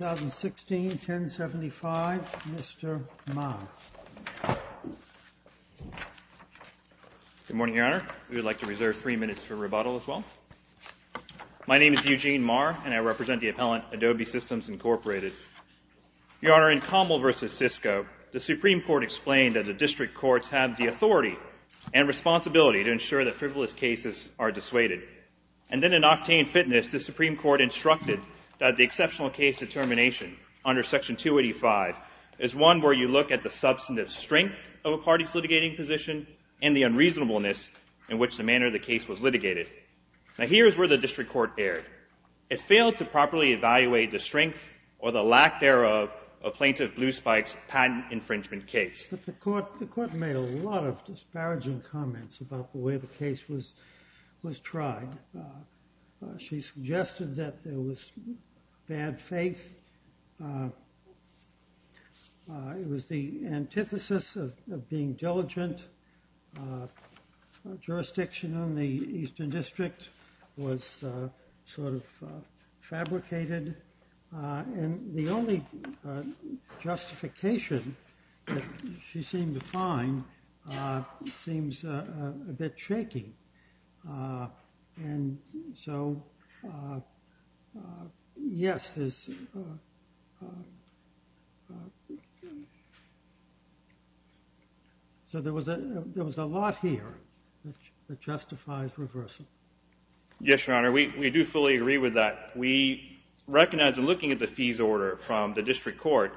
2016, 1075, Mr. Marr. Good morning, Your Honor. We would like to reserve three minutes for rebuttal as well. My name is Eugene Marr, and I represent the appellant, Adobe Systems, Inc. Your Honor, in Commel v. Cisco, the Supreme Court explained that the district courts have the authority and responsibility to ensure that frivolous cases are dissuaded. And then in Octane Fitness, the Supreme Court instructed that the exceptional case determination under Section 285 is one where you look at the substantive strength of a party's litigating position and the unreasonableness in which the manner of the case was litigated. Now, here is where the district court erred. It failed to properly evaluate the strength or the lack thereof of Plaintiff Blue Spike's patent infringement case. But the court made a lot of disparaging comments about the way the case was tried. She suggested that there was bad faith. It was the antithesis of being diligent. Jurisdiction in the Eastern District was sort of fabricated. And the only justification that she seemed to find seems a bit shaky. And so, yes, there's – so there was a lot here that justifies reversal. Yes, Your Honor, we do fully agree with that. We recognize in looking at the fees order from the district court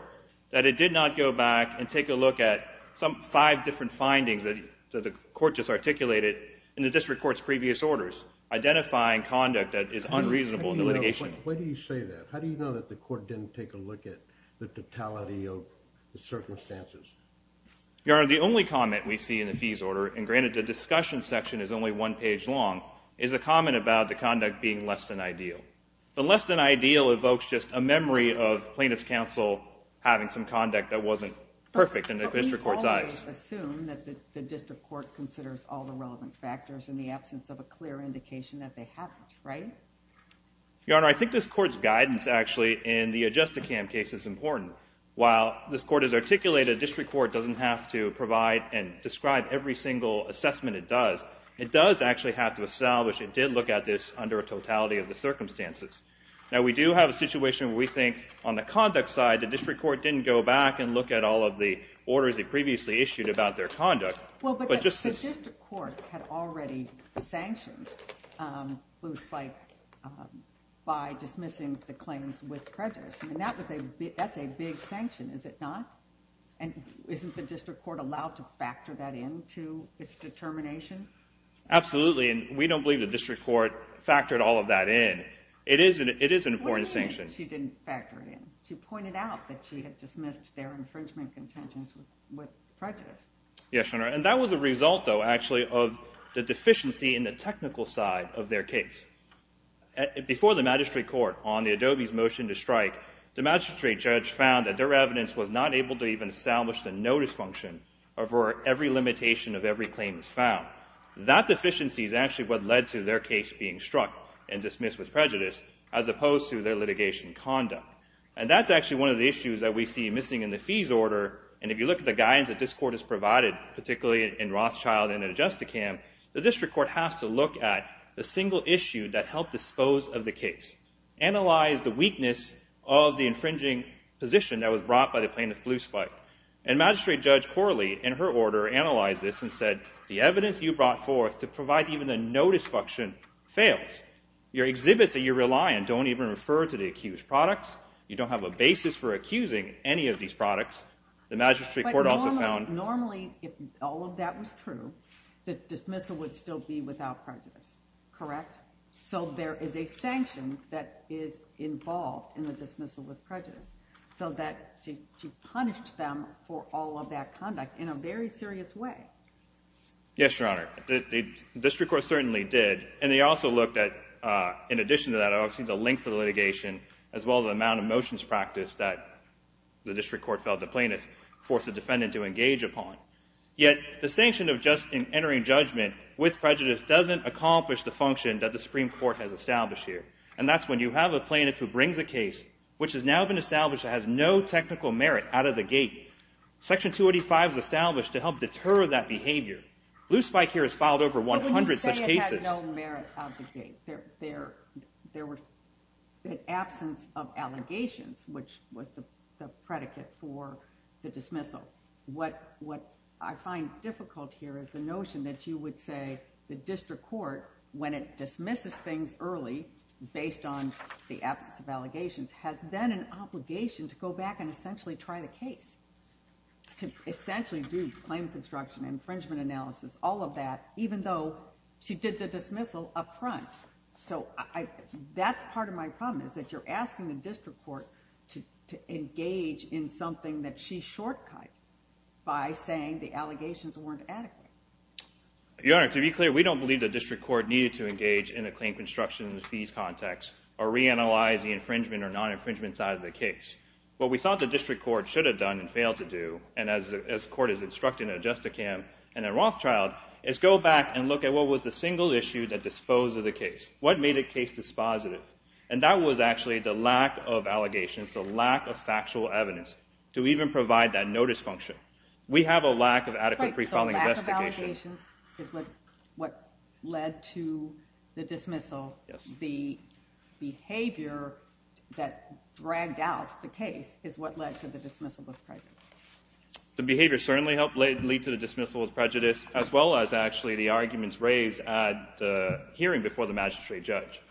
that it did not go back and take a look at some five different findings that the court just articulated in the district court's previous orders, identifying conduct that is unreasonable in the litigation. Wait a minute. Why do you say that? How do you know that the court didn't take a look at the totality of the circumstances? Your Honor, the only comment we see in the fees order, and granted the discussion section is only one page long, is a comment about the conduct being less than ideal. The less than ideal evokes just a memory of plaintiff's counsel having some conduct that wasn't perfect in the district court's eyes. But we've always assumed that the district court considers all the relevant factors in the absence of a clear indication that they haven't, right? Your Honor, I think this court's guidance, actually, in the Adjusticam case is important. While this court has articulated a district court doesn't have to provide and describe every single assessment it does. It does actually have to establish it did look at this under a totality of the circumstances. Now, we do have a situation where we think on the conduct side, the district court didn't go back and look at all of the orders it previously issued about their conduct. Well, but the district court had already sanctioned Booth by dismissing the claims with prejudice. I mean, that's a big sanction, is it not? And isn't the district court allowed to factor that into its determination? Absolutely, and we don't believe the district court factored all of that in. It is an important sanction. What do you mean she didn't factor it in? She pointed out that she had dismissed their infringement contentions with prejudice. Yes, Your Honor, and that was a result, though, actually, of the deficiency in the technical side of their case. Before the magistrate court on the Adobe's motion to strike, the magistrate judge found that their evidence was not able to even establish the notice function of where every limitation of every claim is found. That deficiency is actually what led to their case being struck and dismissed with prejudice, as opposed to their litigation conduct. And that's actually one of the issues that we see missing in the fees order, and if you look at the guidance that this court has provided, particularly in Rothschild and Adjusticam, the district court has to look at the single issue that helped dispose of the case, analyze the weakness of the infringing position that was brought by the plaintiff, Blue Spike. And magistrate judge Corley, in her order, analyzed this and said, the evidence you brought forth to provide even a notice function fails. Your exhibits that you rely on don't even refer to the accused products. You don't have a basis for accusing any of these products. The magistrate court also found... But normally, if all of that was true, the dismissal would still be without prejudice, correct? So there is a sanction that is involved in the dismissal with prejudice, so that she punished them for all of that conduct in a very serious way. Yes, Your Honor. The district court certainly did, and they also looked at, in addition to that, obviously the length of the litigation, as well as the amount of motions practiced that the district court felt the plaintiff forced the defendant to engage upon. Yet, the sanction of just entering judgment with prejudice doesn't accomplish the function that the Supreme Court has established here. And that's when you have a plaintiff who brings a case which has now been established that has no technical merit out of the gate. Section 285 is established to help deter that behavior. Blue Spike here has filed over 100 such cases. But when you say it had no merit out of the gate, there was an absence of allegations, which was the predicate for the dismissal. What I find difficult here is the notion that you would say the district court, when it dismisses things early based on the absence of allegations, has then an obligation to go back and essentially try the case, to essentially do claim construction, infringement analysis, all of that, even though she did the dismissal up front. So that's part of my problem is that you're asking the district court to engage in something that she short cut by saying the allegations weren't adequate. Your Honor, to be clear, we don't believe the district court needed to engage in a claim construction in the fees context or reanalyze the infringement or non-infringement side of the case. What we thought the district court should have done and failed to do, and as the court has instructed in Adjusticam and in Rothschild, is go back and look at what was the single issue that disposed of the case. What made the case dispositive? And that was actually the lack of allegations, the lack of factual evidence, to even provide that notice function. We have a lack of adequate pre-filing investigation. So lack of allegations is what led to the dismissal. Yes. The behavior that dragged out the case is what led to the dismissal of prejudice. The behavior certainly helped lead to the dismissal of prejudice, as well as actually the arguments raised at the hearing before the magistrate judge.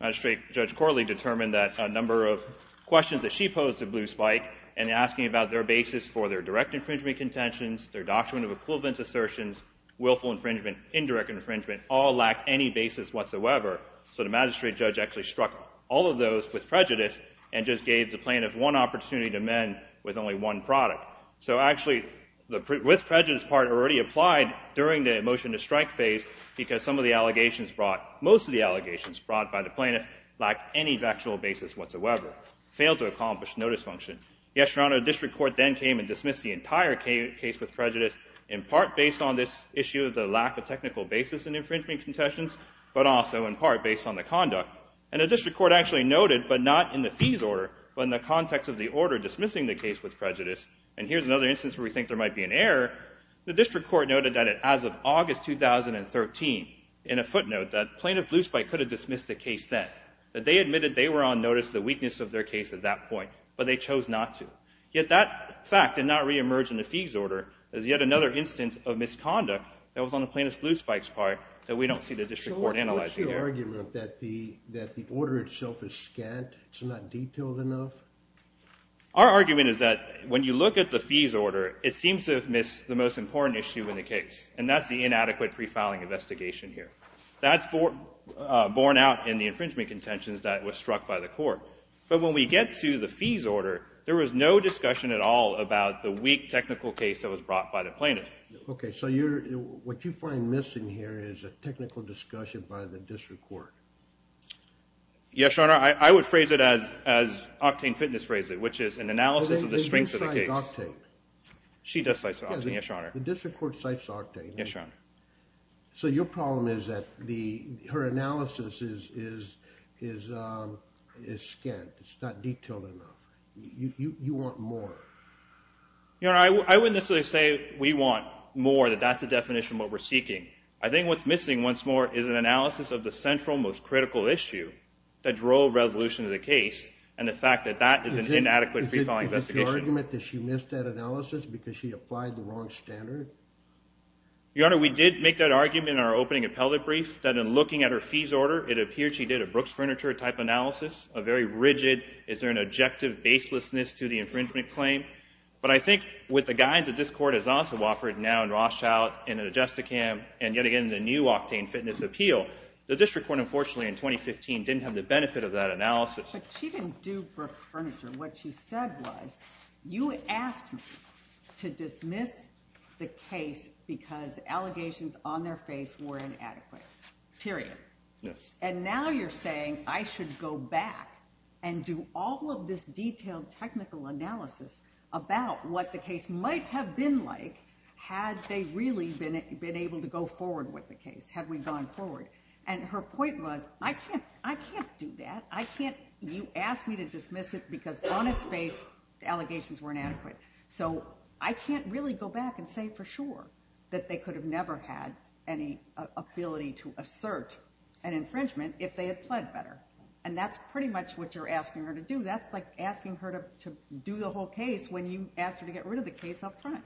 Magistrate Judge Corley determined that a number of questions that she posed and asking about their basis for their direct infringement contentions, their doctrine of equivalence assertions, willful infringement, indirect infringement, all lacked any basis whatsoever. So the magistrate judge actually struck all of those with prejudice and just gave the plaintiff one opportunity to amend with only one product. So actually, the with prejudice part already applied during the motion to strike phase because some of the allegations brought, most of the allegations brought by the plaintiff, lacked any factual basis whatsoever. Failed to accomplish notice function. Yes, Your Honor, the district court then came and dismissed the entire case with prejudice, in part based on this issue of the lack of technical basis in infringement contentions, but also, in part, based on the conduct. And the district court actually noted, but not in the fees order, but in the context of the order dismissing the case with prejudice, and here's another instance where we think there might be an error. The district court noted that as of August 2013, in a footnote, that Plaintiff Blue Spike could have dismissed the case then. That they admitted they were on notice of the weakness of their case at that point, but they chose not to. Yet that fact did not reemerge in the fees order. There's yet another instance of misconduct that was on the Plaintiff Blue Spike's part that we don't see the district court analyzing here. So what's your argument that the order itself is scant? It's not detailed enough? Our argument is that when you look at the fees order, it seems to have missed the most important issue in the case, and that's the inadequate pre-filing investigation here. That's borne out in the infringement contentions that were struck by the court. But when we get to the fees order, there was no discussion at all about the weak technical case that was brought by the plaintiff. Okay. So what you find missing here is a technical discussion by the district court. Yes, Your Honor. I would phrase it as Octane Fitness phrased it, which is an analysis of the strength of the case. She does cite Octane. Yes, Your Honor. The district court cites Octane. Yes, Your Honor. So your problem is that her analysis is scant. It's not detailed enough. You want more. Your Honor, I wouldn't necessarily say we want more, that that's the definition of what we're seeking. I think what's missing once more is an analysis of the central, most critical issue that drove resolution to the case and the fact that that is an inadequate pre-filing investigation. Is it your argument that she missed that analysis because she applied the wrong standard? Your Honor, we did make that argument in our opening appellate brief that in looking at her fees order, it appeared she did a Brooks Furniture type analysis, a very rigid, is there an objective baselessness to the infringement claim. But I think with the guidance that this court has also offered now in Rothschild, in the Justicam, and yet again in the new Octane Fitness appeal, the district court unfortunately in 2015 didn't have the benefit of that analysis. But she didn't do Brooks Furniture. What she said was, you asked me to dismiss the case because allegations on their face were inadequate, period. Yes. And now you're saying I should go back and do all of this detailed technical analysis about what the case might have been like had they really been able to go forward with the case, had we gone forward. And her point was, I can't do that. I can't. You asked me to dismiss it because on its face the allegations were inadequate. So I can't really go back and say for sure that they could have never had any ability to assert an infringement if they had pled better. And that's pretty much what you're asking her to do. That's like asking her to do the whole case when you asked her to get rid of the case up front.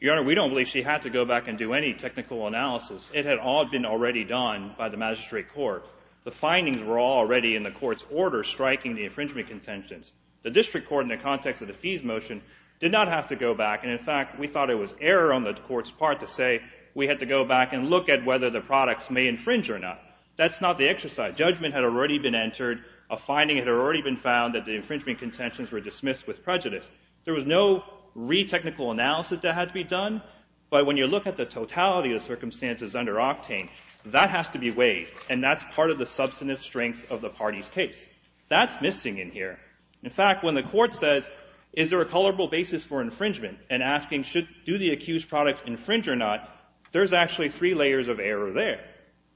Your Honor, we don't believe she had to go back and do any technical analysis. It had all been already done by the magistrate court. The findings were all already in the court's order striking the infringement contentions. The district court, in the context of the fees motion, did not have to go back. And, in fact, we thought it was error on the court's part to say we had to go back and look at whether the products may infringe or not. That's not the exercise. Judgment had already been entered. A finding had already been found that the infringement contentions were dismissed with prejudice. There was no re-technical analysis that had to be done. But when you look at the totality of the circumstances under Octane, that has to be weighed, and that's part of the substantive strength of the party's case. That's missing in here. In fact, when the court says, is there a colorable basis for infringement, and asking do the accused products infringe or not, there's actually three layers of error there.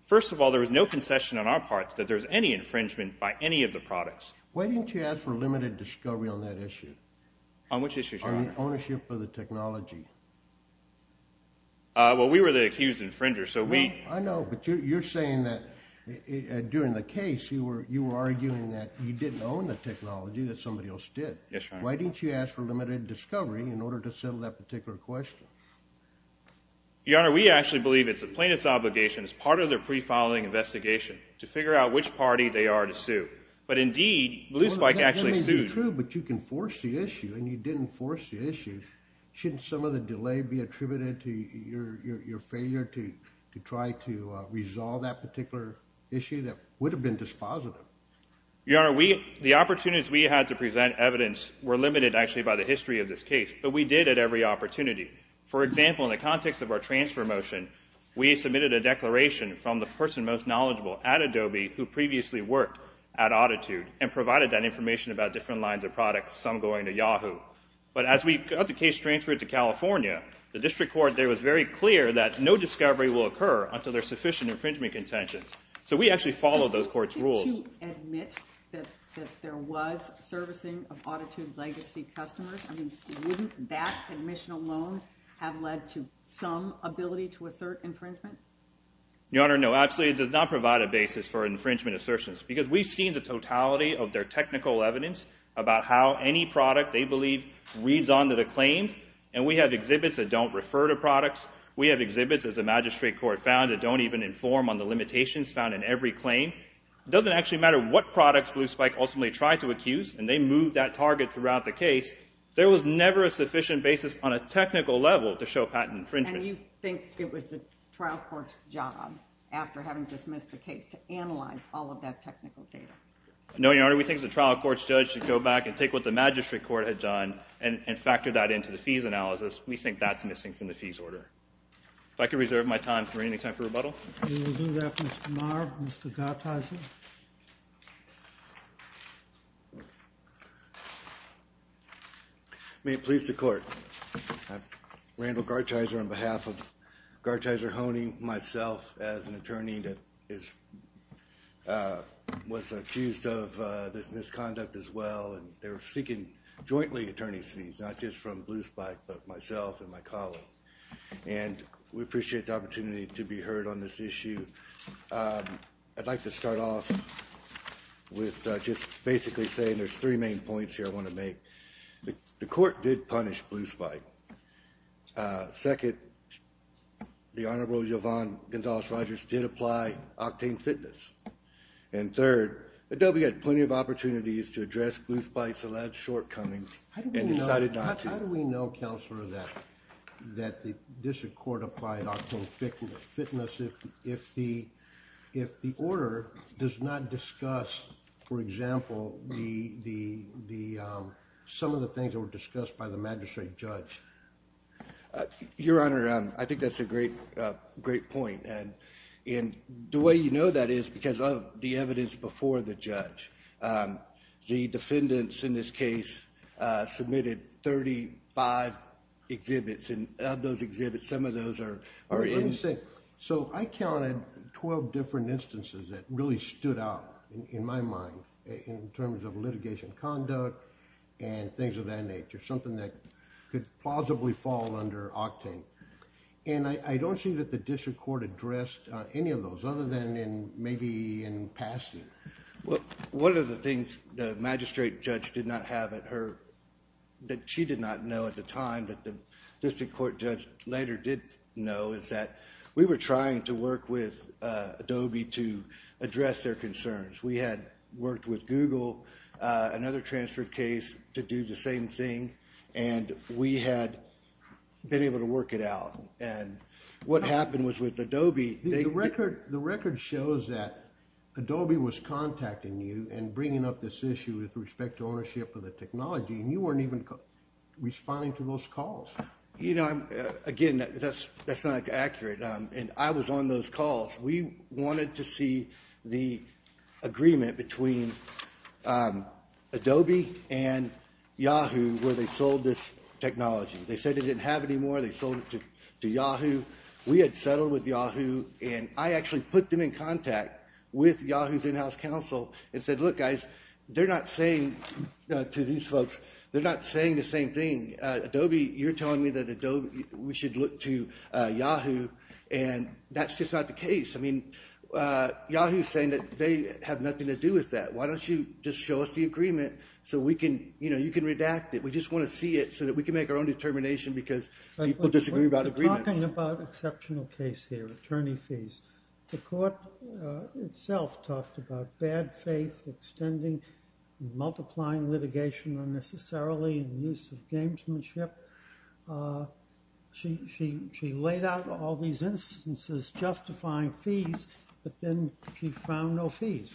First of all, there was no concession on our part that there was any infringement by any of the products. Why didn't you ask for limited discovery on that issue? On which issue, Your Honor? On the ownership of the technology. Well, we were the accused infringer. I know, but you're saying that during the case you were arguing that you didn't own the technology that somebody else did. Yes, Your Honor. Why didn't you ask for limited discovery in order to settle that particular question? Your Honor, we actually believe it's a plaintiff's obligation as part of their pre-filing investigation to figure out which party they are to sue. But indeed, Blue Spike actually sued. That may be true, but you can force the issue, and you didn't force the issue. Shouldn't some of the delay be attributed to your failure to try to resolve that particular issue that would have been dispositive? Your Honor, the opportunities we had to present evidence were limited actually by the history of this case, but we did at every opportunity. For example, in the context of our transfer motion, we submitted a declaration from the person most knowledgeable at Adobe who previously worked at Autitude and provided that information about different lines of product, some going to Yahoo. But as the case transferred to California, the district court there was very clear that no discovery will occur until there's sufficient infringement contentions. So we actually followed those courts' rules. Didn't you admit that there was servicing of Autitude legacy customers? I mean, wouldn't that admission alone have led to some ability to assert infringement? Your Honor, no. Actually, it does not provide a basis for infringement assertions because we've seen the totality of their technical evidence about how any product they believe reads onto the claims, and we have exhibits that don't refer to products. We have exhibits, as the magistrate court found, that don't even inform on the limitations found in every claim. It doesn't actually matter what products Blue Spike ultimately tried to accuse, and they moved that target throughout the case. There was never a sufficient basis on a technical level to show patent infringement. And you think it was the trial court's job, after having dismissed the case, to analyze all of that technical data? No, Your Honor. We think the trial court's judge should go back and take what the magistrate court had done and factor that into the fees analysis. We think that's missing from the fees order. If I could reserve my time for any time for rebuttal. We will do that, Mr. Maher. Mr. Gartheiser? May it please the Court. Randall Gartheiser on behalf of Gartheiser, honing myself as an attorney that was accused of this misconduct as well, and they're seeking jointly attorney's fees, not just from Blue Spike, but myself and my colleague. And we appreciate the opportunity to be heard on this issue. I'd like to start off with just basically saying there's three main points here I want to make. The court did punish Blue Spike. Second, the Honorable Yvonne Gonzalez-Rogers did apply octane fitness. And third, Adobe had plenty of opportunities to address Blue Spike's alleged shortcomings and decided not to. How do we know, Counselor, that the district court applied octane fitness if the order does not discuss, for example, some of the things that were discussed by the magistrate judge? Your Honor, I think that's a great point. And the way you know that is because of the evidence before the judge. The defendants in this case submitted 35 exhibits. Some of those are in- So I counted 12 different instances that really stood out in my mind in terms of litigation conduct and things of that nature, something that could plausibly fall under octane. And I don't see that the district court addressed any of those other than maybe in passing. One of the things the magistrate judge did not have at her- that she did not know at the time but the district court judge later did know is that we were trying to work with Adobe to address their concerns. We had worked with Google, another transfer case, to do the same thing. And we had been able to work it out. And what happened was with Adobe- The record shows that Adobe was contacting you and bringing up this issue with respect to ownership of the technology. And you weren't even responding to those calls. You know, again, that's not accurate. And I was on those calls. We wanted to see the agreement between Adobe and Yahoo where they sold this technology. They said they didn't have any more. They sold it to Yahoo. We had settled with Yahoo. And I actually put them in contact with Yahoo's in-house counsel and said, Look, guys, they're not saying to these folks- They're not saying the same thing. Adobe, you're telling me that we should look to Yahoo. And that's just not the case. I mean, Yahoo's saying that they have nothing to do with that. Why don't you just show us the agreement so we can- You know, you can redact it. We just want to see it so that we can make our own determination because people disagree about agreements. You're talking about an exceptional case here, attorney fees. The court itself talked about bad faith, extending, multiplying litigation unnecessarily, and use of gamesmanship. She laid out all these instances justifying fees, but then she found no fees.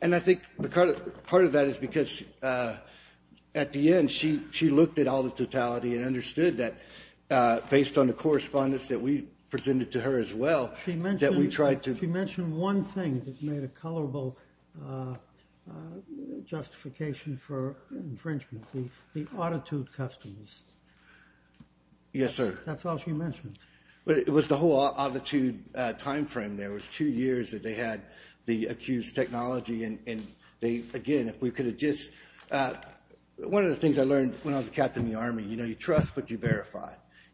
And I think part of that is because at the end she looked at all the totality and understood that based on the correspondence that we presented to her as well, that we tried to- She mentioned one thing that made a colorable justification for infringement, the auditude customs. Yes, sir. That's all she mentioned. It was the whole auditude time frame there. It was two years that they had the accused technology. And again, if we could have just-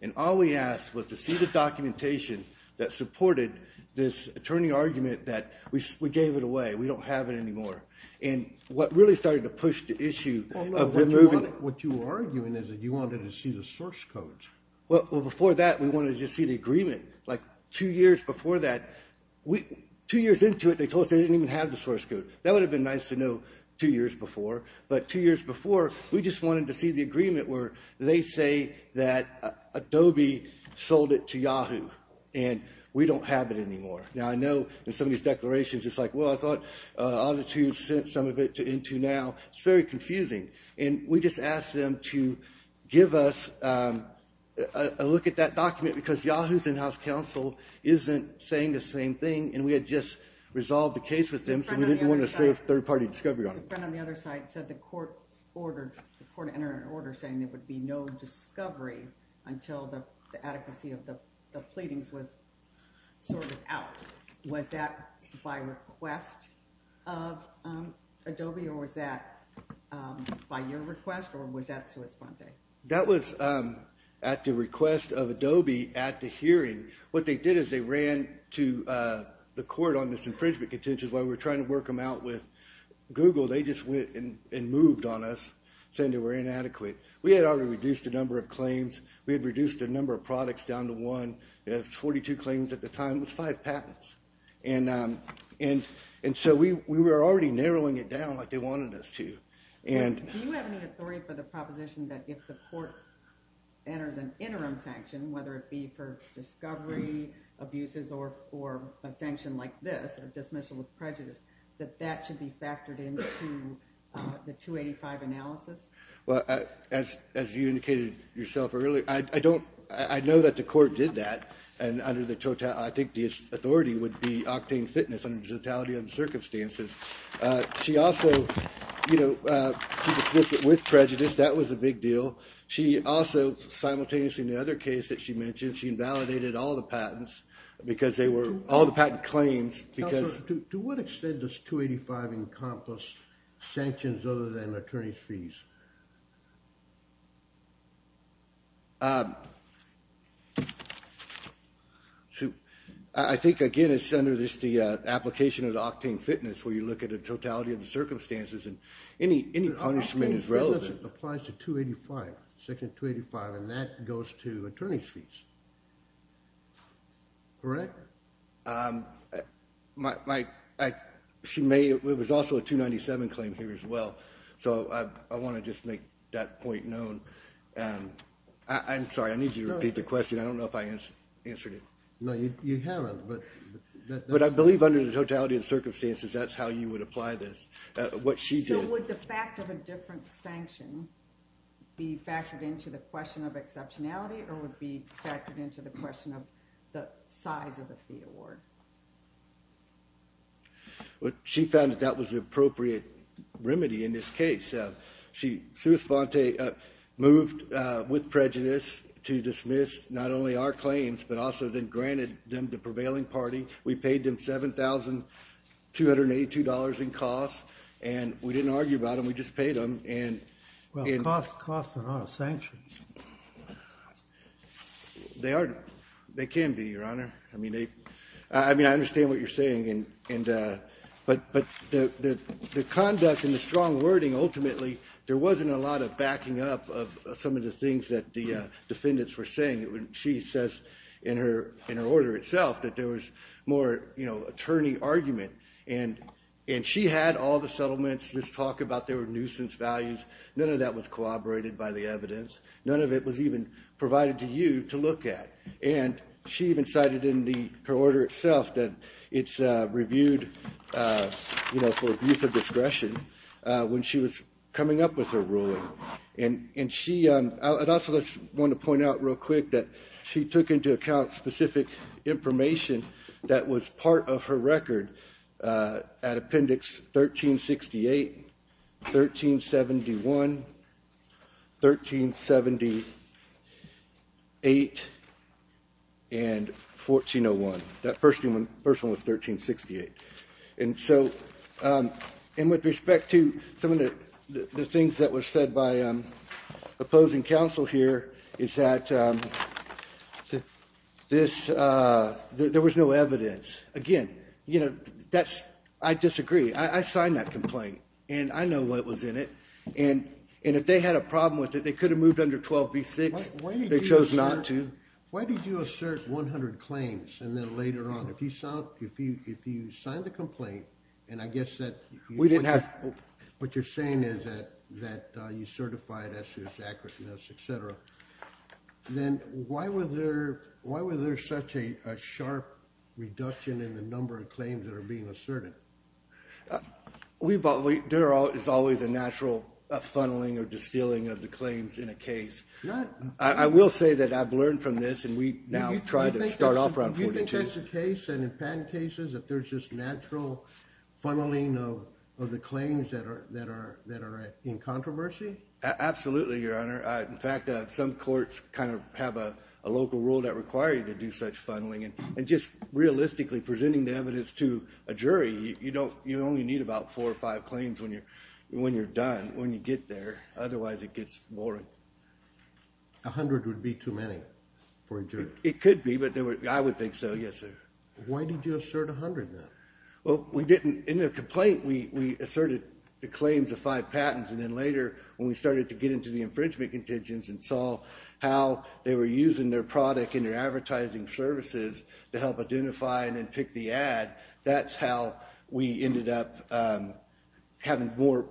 And all we asked was to see the documentation that supported this attorney argument that we gave it away, we don't have it anymore. And what really started to push the issue of removing- What you were arguing is that you wanted to see the source codes. Well, before that we wanted to just see the agreement. Like two years before that, two years into it they told us they didn't even have the source code. That would have been nice to know two years before. But two years before we just wanted to see the agreement where they say that Adobe sold it to Yahoo and we don't have it anymore. Now, I know in some of these declarations it's like, well, I thought auditude sent some of it into now. It's very confusing. And we just asked them to give us a look at that document because Yahoo's in-house counsel isn't saying the same thing. And we had just resolved the case with them so we didn't want to save third-party discovery on them. Your friend on the other side said the court entered an order saying there would be no discovery until the adequacy of the pleadings was sorted out. Was that by request of Adobe or was that by your request or was that sua sponte? That was at the request of Adobe at the hearing. What they did is they ran to the court on this infringement contention. While we were trying to work them out with Google, they just went and moved on us saying they were inadequate. We had already reduced the number of claims. We had reduced the number of products down to one. We had 42 claims at the time. It was five patents. And so we were already narrowing it down like they wanted us to. Do you have any authority for the proposition that if the court enters an interim sanction, whether it be for discovery, abuses, or a sanction like this, that that should be factored into the 285 analysis? As you indicated yourself earlier, I know that the court did that, and I think the authority would be octane fitness under the totality of the circumstances. She also did it with prejudice. That was a big deal. She also simultaneously in the other case that she mentioned, she invalidated all the patents because they were all the patent claims. Counselor, to what extent does 285 encompass sanctions other than attorney's fees? I think, again, it's under the application of the octane fitness where you look at the totality of the circumstances, and any punishment is relevant. Octane fitness applies to 285, Section 285, and that goes to attorney's fees, correct? It was also a 297 claim here as well, so I want to just make that point known. I'm sorry, I need you to repeat the question. I don't know if I answered it. No, you haven't. But I believe under the totality of the circumstances, that's how you would apply this. So would the fact of a different sanction be factored into the question of exceptionality or would it be factored into the question of the size of the fee award? She found that that was the appropriate remedy in this case. Sue Esponte moved with prejudice to dismiss not only our claims, but also then granted them to the prevailing party. We paid them $7,282 in costs, and we didn't argue about them. We just paid them. Costs are not a sanction. They can be, Your Honor. I mean, I understand what you're saying, but the conduct and the strong wording ultimately, there wasn't a lot of backing up of some of the things that the defendants were saying. She says in her order itself that there was more attorney argument, and she had all the settlements, this talk about there were nuisance values. None of that was corroborated by the evidence. None of it was even provided to you to look at. And she even cited in the order itself that it's reviewed for abuse of discretion when she was coming up with her ruling. And I also just want to point out real quick that she took into account specific information that was part of her record at Appendix 1368, 1371, 1378, and 1401. That first one was 1368. And so with respect to some of the things that were said by opposing counsel here, is that there was no evidence. Again, I disagree. I signed that complaint, and I know what was in it. And if they had a problem with it, they could have moved under 12b-6. They chose not to. Why did you assert 100 claims, and then later on, if you signed the complaint, and I guess that what you're saying is that you certified S.U.S. accurateness, et cetera, then why was there such a sharp reduction in the number of claims that are being asserted? There is always a natural funneling or distilling of the claims in a case. I will say that I've learned from this, and we now try to start off around 42. But that's the case. And in patent cases, if there's just natural funneling of the claims that are in controversy? Absolutely, Your Honor. In fact, some courts kind of have a local rule that require you to do such funneling. And just realistically, presenting the evidence to a jury, you only need about four or five claims when you're done, when you get there. Otherwise, it gets boring. A hundred would be too many for a jury. It could be, but I would think so, yes, sir. Why did you assert 100, then? Well, in the complaint, we asserted the claims of five patents, and then later, when we started to get into the infringement contingents and saw how they were using their product and their advertising services to help identify and then pick the ad, that's how we ended up having more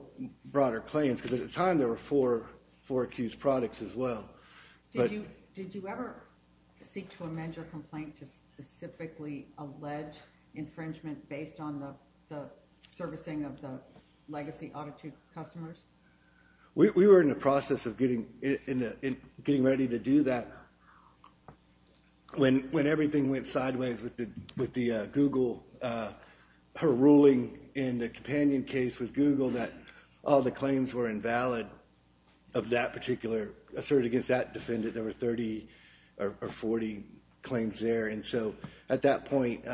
broader claims. Because at the time, there were four accused products as well. Did you ever seek to amend your complaint to specifically allege infringement based on the servicing of the legacy Autotune customers? We were in the process of getting ready to do that. When everything went sideways with the Google, her ruling in the Companion case with Google that all the claims were invalid of that particular assert against that defendant, there were 30 or 40 claims there. And so at that point,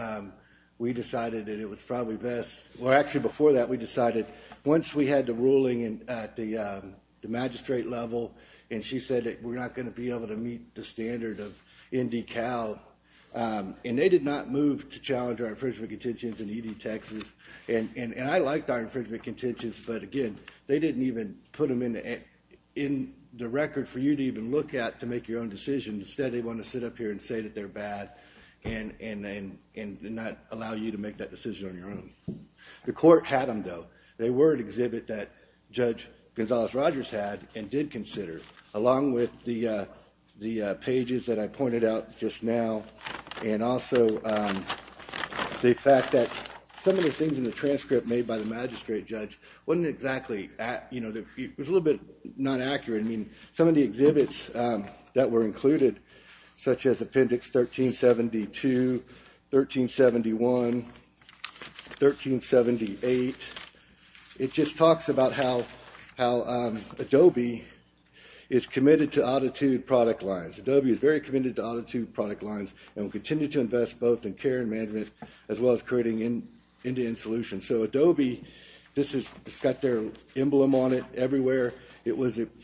we decided that it was probably best. Well, actually, before that, we decided once we had the ruling at the magistrate level, and she said that we're not going to be able to meet the standard of ND Cal, and they did not move to challenge our infringement contentions in ED Texas. And I liked our infringement contentions, but again, they didn't even put them in the record for you to even look at to make your own decision. Instead, they want to sit up here and say that they're bad and not allow you to make that decision on your own. The court had them, though. They were an exhibit that Judge Gonzales-Rogers had and did consider, along with the pages that I pointed out just now, and also the fact that some of the things in the transcript made by the magistrate judge wasn't exactly accurate. Some of the exhibits that were included, such as Appendix 1372, 1371, 1378, it just talks about how Adobe is committed to attitude product lines. Adobe is very committed to attitude product lines and will continue to invest both in care and management as well as creating end-to-end solutions. So Adobe, this has got their emblem on it everywhere. It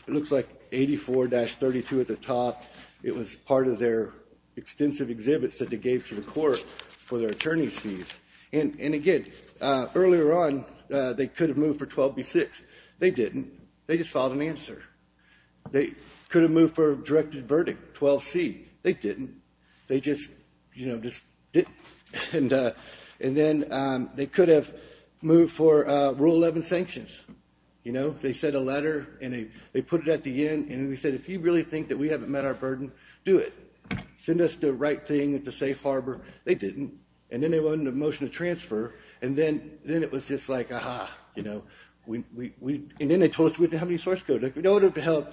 looks like 84-32 at the top. It was part of their extensive exhibits that they gave to the court for their attorney's fees. And again, earlier on, they could have moved for 12b-6. They didn't. They just filed an answer. They could have moved for a directed verdict, 12c. They didn't. They just didn't. And then they could have moved for Rule 11 sanctions. They said a letter, and they put it at the end, and they said, if you really think that we haven't met our burden, do it. Send us the right thing at the safe harbor. They didn't. And then they wanted a motion to transfer, and then it was just like, ah-ha. And then they told us we didn't have any source code. We don't have to help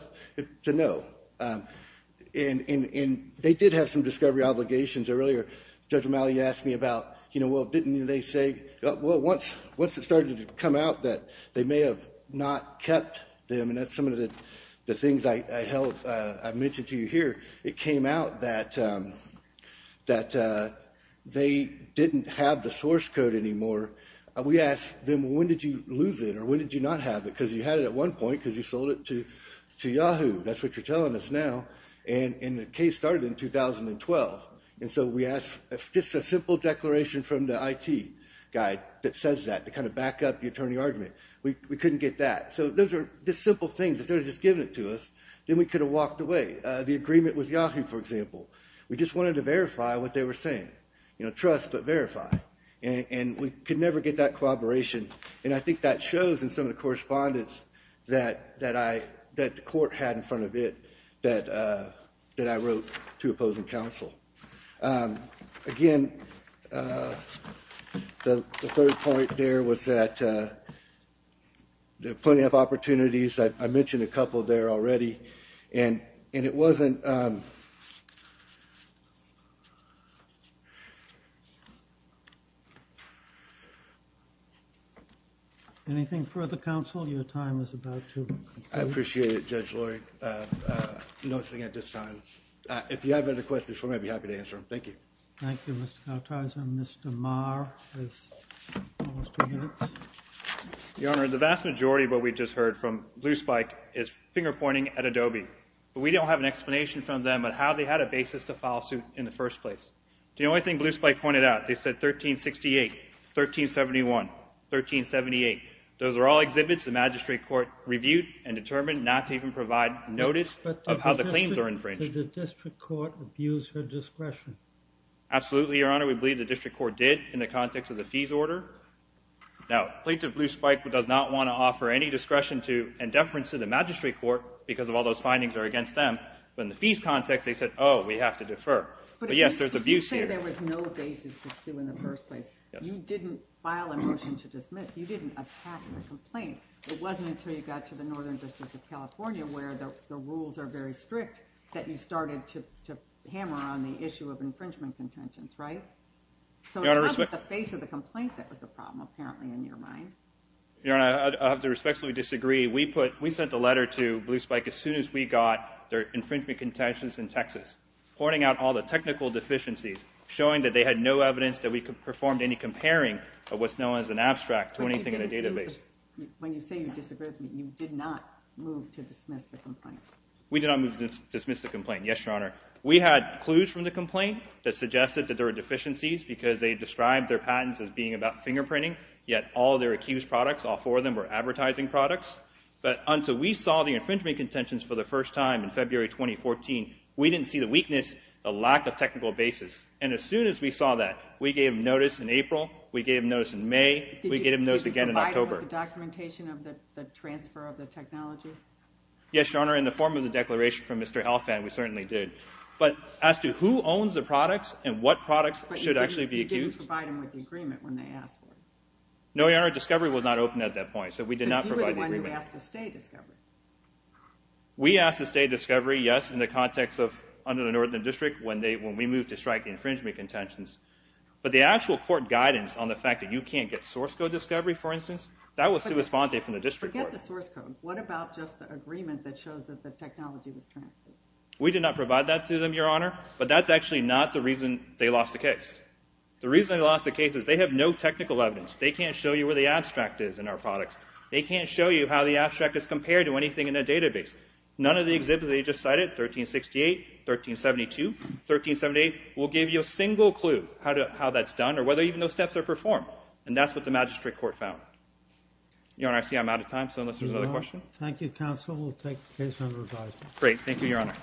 to know. And they did have some discovery obligations earlier. Judge O'Malley asked me about, you know, well, didn't they say, well, once it started to come out that they may have not kept them, and that's some of the things I mentioned to you here, it came out that they didn't have the source code anymore. We asked them, well, when did you lose it, or when did you not have it? Because you had it at one point because you sold it to Yahoo. That's what you're telling us now. And the case started in 2012. And so we asked just a simple declaration from the IT guy that says that to kind of back up the attorney argument. We couldn't get that. So those are just simple things. If they would have just given it to us, then we could have walked away. The agreement with Yahoo, for example. We just wanted to verify what they were saying. You know, trust but verify. And we could never get that collaboration. And I think that shows in some of the correspondence that the court had in that I wrote to opposing counsel. Again, the third point there was that there are plenty of opportunities. I mentioned a couple there already. And it wasn't... Anything further, counsel? Your time is about to conclude. I appreciate it, Judge Lloyd. Nothing at this time. If you have any questions, we might be happy to answer them. Thank you. Thank you, Mr. Kautoyz. And Mr. Maher has almost two minutes. Your Honor, the vast majority of what we just heard from Blue Spike is finger-pointing at Adobe. But we don't have an explanation from them on how they had a basis to file suit in the first place. The only thing Blue Spike pointed out, they said 1368, 1371, 1378. Those are all exhibits the magistrate court reviewed and determined not to even provide notice of how the claims are infringed. But did the district court abuse her discretion? Absolutely, Your Honor. We believe the district court did in the context of the fees order. Now, Plaintiff Blue Spike does not want to offer any discretion to and deference to the magistrate court because all those findings are against them. But in the fees context, they said, oh, we have to defer. But, yes, there's abuse here. But you say there was no basis to sue in the first place. You didn't file a motion to dismiss. You didn't attack the complaint. It wasn't until you got to the Northern District of California where the rules are very strict that you started to hammer on the issue of infringement contentions, right? So it's not the face of the complaint that was the problem, apparently, in your mind. Your Honor, I have to respectfully disagree. We sent a letter to Blue Spike as soon as we got their infringement contentions in Texas, pointing out all the technical deficiencies, showing that they had no evidence that we performed any comparing of what's known as an abstract to anything in the database. When you say you disagree with me, you did not move to dismiss the complaint. We did not move to dismiss the complaint, yes, Your Honor. We had clues from the complaint that suggested that there were deficiencies because they described their patents as being about fingerprinting, yet all their accused products, all four of them, were advertising products. But until we saw the infringement contentions for the first time in February 2014, we didn't see the weakness, the lack of technical basis. And as soon as we saw that, we gave notice in April, we gave notice in May, we gave notice again in October. Did you provide them with the documentation of the transfer of the technology? Yes, Your Honor, in the form of the declaration from Mr. Alfand, we certainly did. But as to who owns the products and what products should actually be accused... But you didn't provide them with the agreement when they asked for it. No, Your Honor, Discovery was not open at that point, so we did not provide the agreement. But you were the one who asked to stay Discovery. We asked to stay Discovery, yes, in the context of under the Northern District when we moved to strike the infringement contentions. But the actual court guidance on the fact that you can't get source code Discovery, for instance, that was sous-fante from the district court. Forget the source code. What about just the agreement that shows that the technology was transferred? We did not provide that to them, Your Honor, but that's actually not the reason they lost the case. The reason they lost the case is they have no technical evidence. They can't show you where the abstract is in our products. They can't show you how the abstract is compared to anything in the database. None of the exhibits that you just cited, 1368, 1372, 1378, will give you a single clue how that's done or whether even those steps are performed. And that's what the magistrate court found. Your Honor, I see I'm out of time, so unless there's another question... Thank you, counsel. We'll take the case under revising. Great. Thank you, Your Honor.